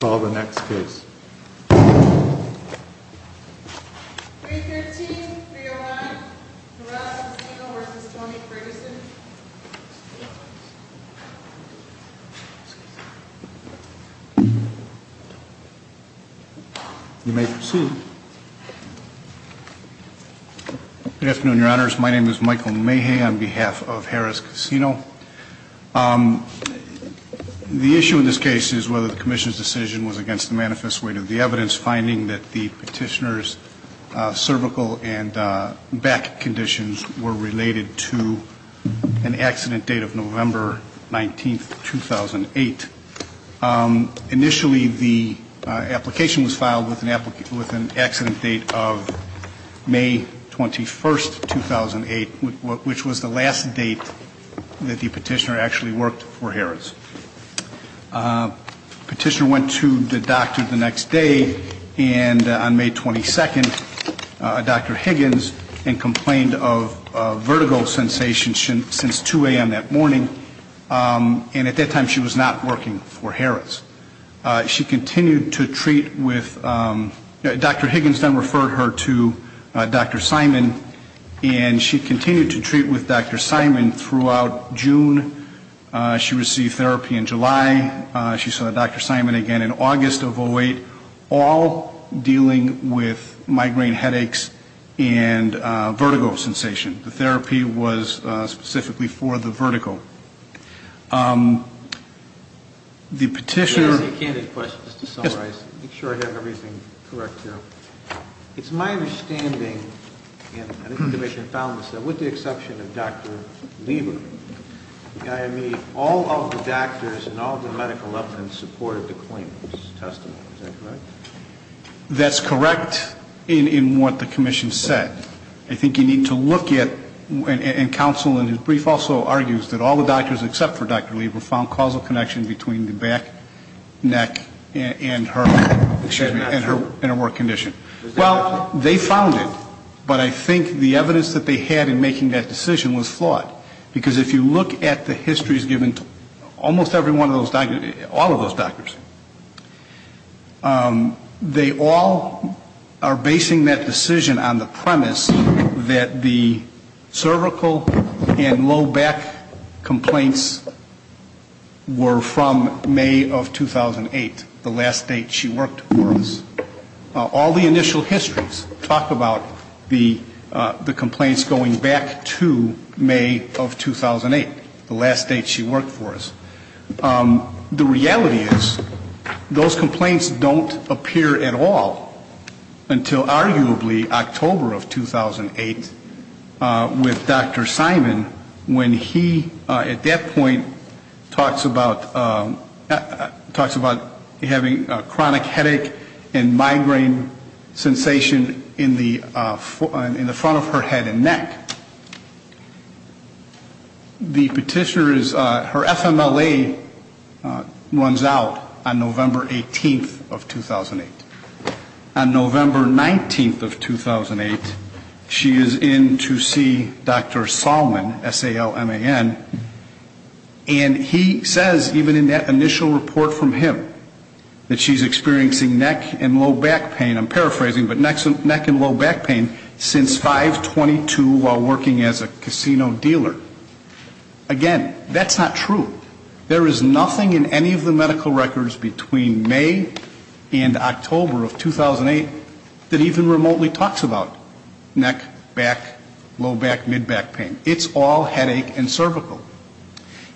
Good afternoon, your honors. My name is Michael Mayhey on behalf of Harrah's Casino. The issue in this case is whether the commission's decision was against the manifest weight of the evidence, finding that the petitioner's cervical and back conditions were related to an accident date of November 19, 2008. Initially, the application was filed with an accident date of May 21, 2008, which was the last date that the petitioner actually worked for Harrah's. The petitioner went to the doctor the next day, and on May 22, Dr. Higgins complained of vertigo sensation since 2 a.m. that morning. And at that time, she was not working for Harrah's. She continued to treat with Dr. Higgins, then referred her to Dr. Simon, and she continued to treat with Dr. Simon throughout June. She received therapy in July. She saw Dr. Simon again in August of 08, all dealing with migraine headaches and vertigo sensation. The therapy was specifically for the vertigo. The petitioner Let me ask you a candid question just to summarize, make sure I have everything correct here. It's my understanding, and I think the debate has found this, that with the exception of Dr. Lieber, all of the doctors and all of the medical evidence supported the claim. Is that correct? That's correct in what the commission said. I think you need to look at, and counsel in his brief also argues that all the doctors except for Dr. Lieber found causal connection between the back neck and her work condition. Well, they found it, but I think the evidence that they had in making that decision was flawed. Because if you look at the histories given to almost every one of those doctors, all of those doctors, they all are basing that decision on the premise that the cervical and low back complaints were from May of 2008, the last date she worked for us. All the initial histories talk about the complaints going back to May of 2008, the last date she worked for us. The reality is those complaints don't appear at all until arguably October of 2008 with Dr. Simon when he at that point talks about having a chronic headache and migraine sensation in the front of her head and neck. The petitioner is, her FMLA runs out on November 18th of 2008. On November 19th of 2008, she is in to see Dr. Salman, S-A-L-M-A-N, and he says even in that initial report from him that she's experiencing neck and low back pain, I'm paraphrasing, but neck and low back pain since 5-22 while working. As a casino dealer. Again, that's not true. There is nothing in any of the medical records between May and October of 2008 that even remotely talks about neck, back, low back, mid back pain. It's all headache and cervical.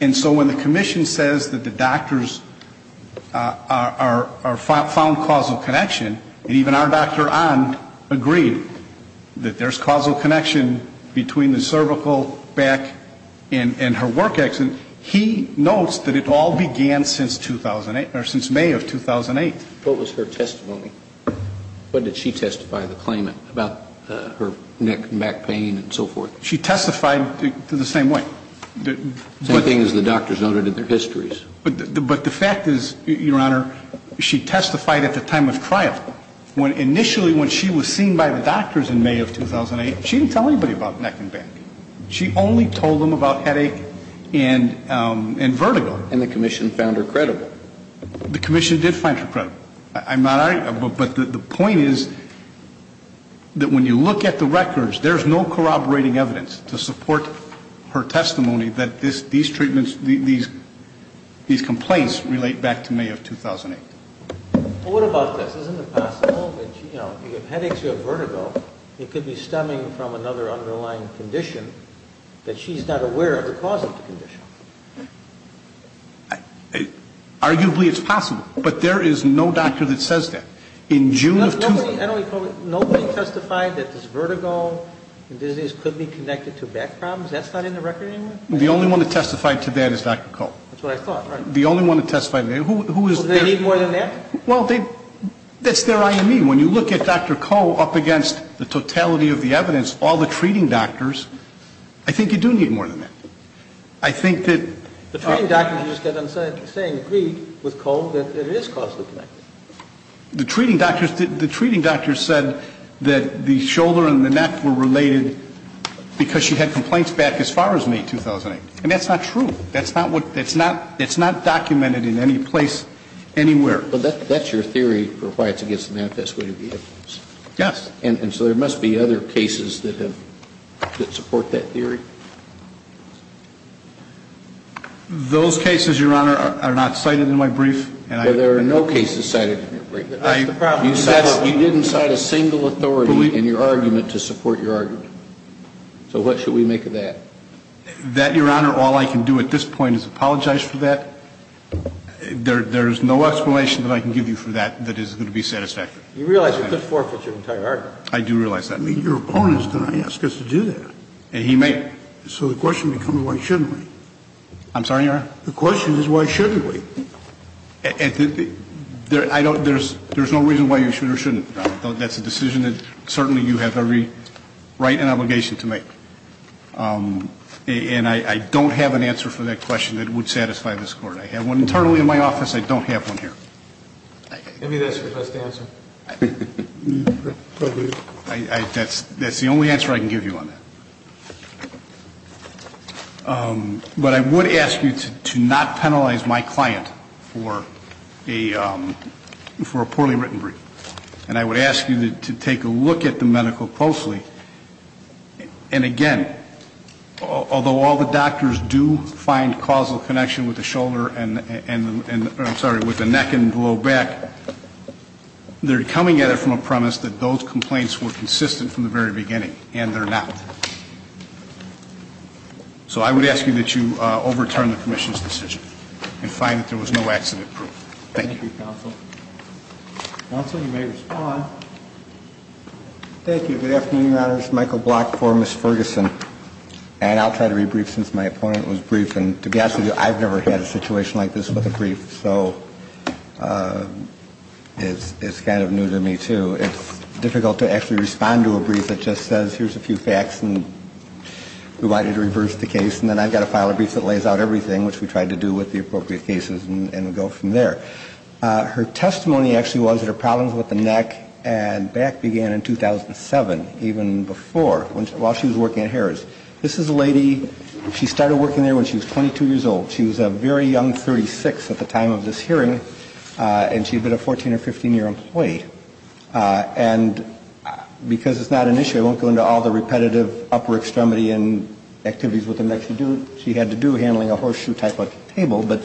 And so when the commission says that the doctors are found causal connection, and even our Dr. Ahn agreed that there's causal connection between the medical records and the medical records. Between the cervical, back, and her work accident, he notes that it all began since 2008, or since May of 2008. What was her testimony? What did she testify to the claimant about her neck and back pain and so forth? She testified the same way. Same thing as the doctors noted in their histories. But the fact is, Your Honor, she testified at the time of trial. Initially when she was seen by the doctors in May of 2008, she didn't tell anybody about neck and back. She only told them about headache and vertigo. And the commission found her credible. The commission did find her credible. But the point is that when you look at the records, there's no corroborating evidence to support her testimony that these treatments, these complaints relate back to May of 2008. Well, what about this? Isn't it possible that, you know, if you have headaches or you have vertigo, it could be stemming from another underlying condition that she's not aware of the cause of the condition? Arguably it's possible. But there is no doctor that says that. In June of 2008. Nobody testified that this vertigo and disease could be connected to back problems. That's not in the record anymore? The only one that testified to that is Dr. Koh. That's what I thought. Right. The only one that testified to that. Who is there? Do they need more than that? Well, that's their IME. When you look at Dr. Koh up against the totality of the evidence, all the treating doctors, I think you do need more than that. I think that... The treating doctors just kept on saying, agreed with Koh that it is caused by the neck. The treating doctors said that the shoulder and the neck were related because she had complaints back as far as May 2008. And that's not true. That's not documented in any place anywhere. But that's your theory for why it's against the manifest way to be evidence. Yes. And so there must be other cases that support that theory? Those cases, Your Honor, are not cited in my brief. Well, there are no cases cited in your brief. You didn't cite a single authority in your argument to support your argument. So what should we make of that? That, Your Honor, all I can do at this point is apologize for that. There's no explanation that I can give you for that that is going to be satisfactory. You realize you could forfeit your entire argument. I do realize that. Your opponent is going to ask us to do that. And he may. So the question becomes why shouldn't we? I'm sorry, Your Honor? The question is why shouldn't we? There's no reason why you should or shouldn't. That's a decision that certainly you have every right and obligation to make. And I don't have an answer for that question that would satisfy this Court. I have one internally in my office. I don't have one here. Maybe that's your best answer. That's the only answer I can give you on that. But I would ask you to not penalize my client for a poorly written brief. And I would ask you to take a look at the medical closely. And, again, although all the doctors do find causal connection with the neck and low back, they're coming at it from a premise that those complaints were consistent from the very beginning, and they're not. So I would ask you that you overturn the commission's decision and find that there was no accident proof. Thank you. Thank you, Counsel. Counsel, you may respond. Thank you. Good afternoon, Your Honors. Michael Block for Ms. Ferguson. And I'll try to rebrief since my opponent was briefed. And to be honest with you, I've never had a situation like this with a brief, so it's kind of new to me too. It's difficult to actually respond to a brief that just says here's a few facts and we want you to reverse the case. And then I've got to file a brief that lays out everything, which we tried to do with the appropriate cases and go from there. Her testimony actually was that her problems with the neck and back began in 2007, even before, while she was working at Harris. This is a lady, she started working there when she was 22 years old. She was a very young 36 at the time of this hearing, and she had been a 14- or 15-year employee. And because it's not an issue, I won't go into all the repetitive upper extremity and activities with the neck she had to do handling a horseshoe type of table, but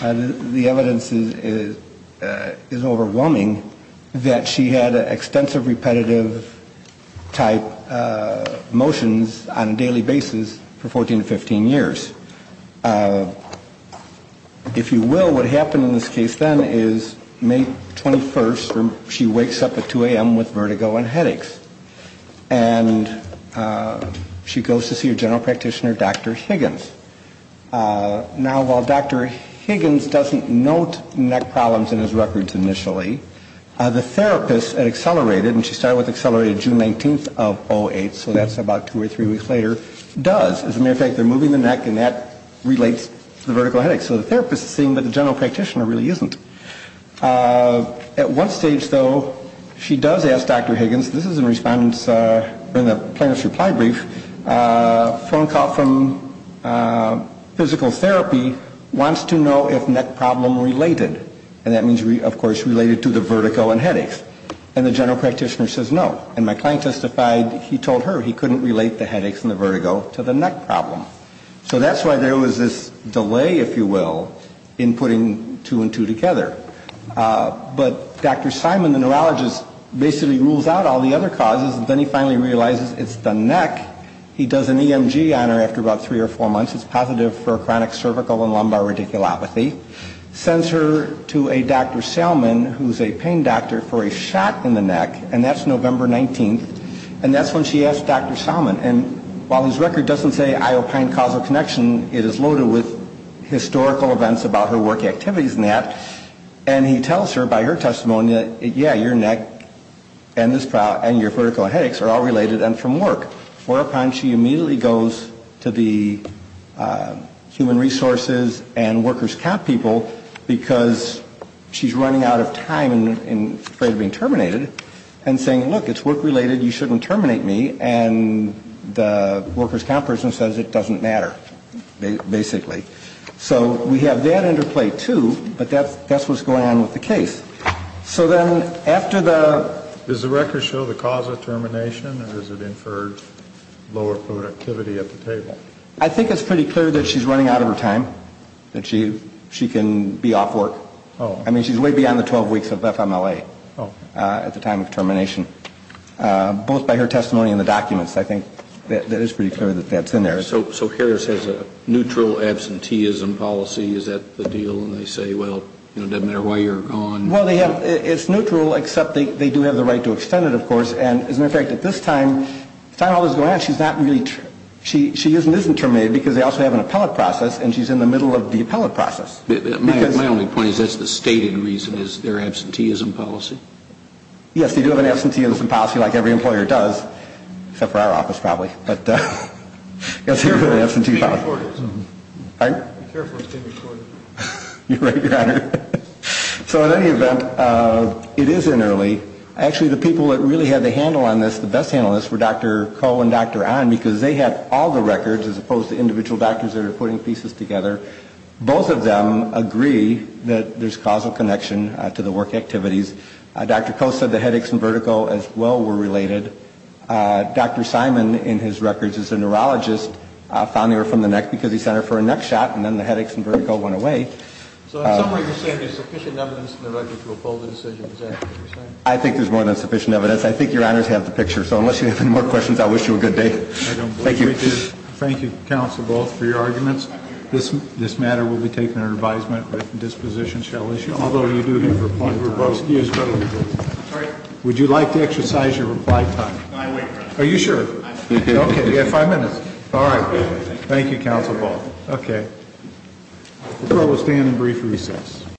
the evidence is overwhelming that she had extensive repetitive type motions on a daily basis for 14 to 15 years. If you will, what happened in this case then is May 21st, she wakes up at 2 a.m. with vertigo and headaches. And she goes to see her general practitioner, Dr. Higgins. Now, while Dr. Higgins doesn't note neck problems in his records initially, the therapist at Accelerated, and she started with Accelerated June 19th of 08, so that's about two or three weeks later, does, as a matter of fact, they're moving the neck, and that relates to the vertical headaches. So the therapist is seeing, but the general practitioner really isn't. At one stage, though, she does ask Dr. Higgins, this is in the plaintiff's reply brief, a phone call from physical therapy wants to know if neck problem related. And that means, of course, related to the vertigo and headaches. And the general practitioner says no, and my client testified he told her he couldn't relate the headaches and the vertigo to the neck problem. So that's why there was this delay, if you will, in putting two and two together. But Dr. Simon, the neurologist, basically rules out all the other causes, and then he finally realizes it's the neck. He does an EMG on her after about three or four months. It's positive for chronic cervical and lumbar radiculopathy. Sends her to a Dr. Salmon, who's a pain doctor, for a shot in the neck, and that's November 19th, and that's when she asks Dr. Salmon. And while his record doesn't say Iopine causal connection, it is loaded with historical events about her work activities and that. And he tells her by her testimony, yeah, your neck and your vertigo and headaches are all related and from work. Whereupon she immediately goes to the human resources and workers' comp people because she's running out of time and afraid of being terminated. And saying, look, it's work-related, you shouldn't terminate me. And the workers' comp person says it doesn't matter, basically. So we have that under play, too, but that's what's going on with the case. So then after the ‑‑ Is the record show the cause of termination, or is it inferred lower productivity at the table? I think it's pretty clear that she's running out of her time, that she can be off work. I mean, she's way beyond the 12 weeks of FMLA at the time of termination. Both by her testimony and the documents, I think that is pretty clear that that's in there. So Harris has a neutral absenteeism policy, is that the deal? And they say, well, it doesn't matter why you're gone. Well, it's neutral, except they do have the right to extend it, of course. And as a matter of fact, at this time, the time all this is going on, she's not really ‑‑ she is and isn't terminated because they also have an appellate process and she's in the middle of the appellate process. My only point is that's the stated reason is their absenteeism policy. Yes, they do have an absenteeism policy like every employer does, except for our office probably. But, yes, they do have an absenteeism policy. Be careful, it's being recorded. You're right, Your Honor. So in any event, it is in early. Actually, the people that really had the handle on this, the best handle on this, were Dr. Koh and Dr. Ahn because they had all the records as opposed to individual doctors that are putting pieces together. Both of them agree that there's causal connection to the work activities. Dr. Koh said the headaches and vertigo as well were related. Dr. Simon, in his records, is a neurologist found near from the neck because he sent her for a neck shot and then the headaches and vertigo went away. So in some way you're saying there's sufficient evidence in the records to oppose the decision, is that what you're saying? I think there's more than sufficient evidence. I think Your Honors have the picture. So unless you have any more questions, I wish you a good day. Thank you. Thank you, counsel, both, for your arguments. This matter will be taken under advisement. Disposition shall issue, although you do have rebuttal. Would you like to exercise your reply time? I wait, Your Honor. Are you sure? Okay, you have five minutes. All right. Thank you, counsel, both. Okay. The court will stand in brief recess.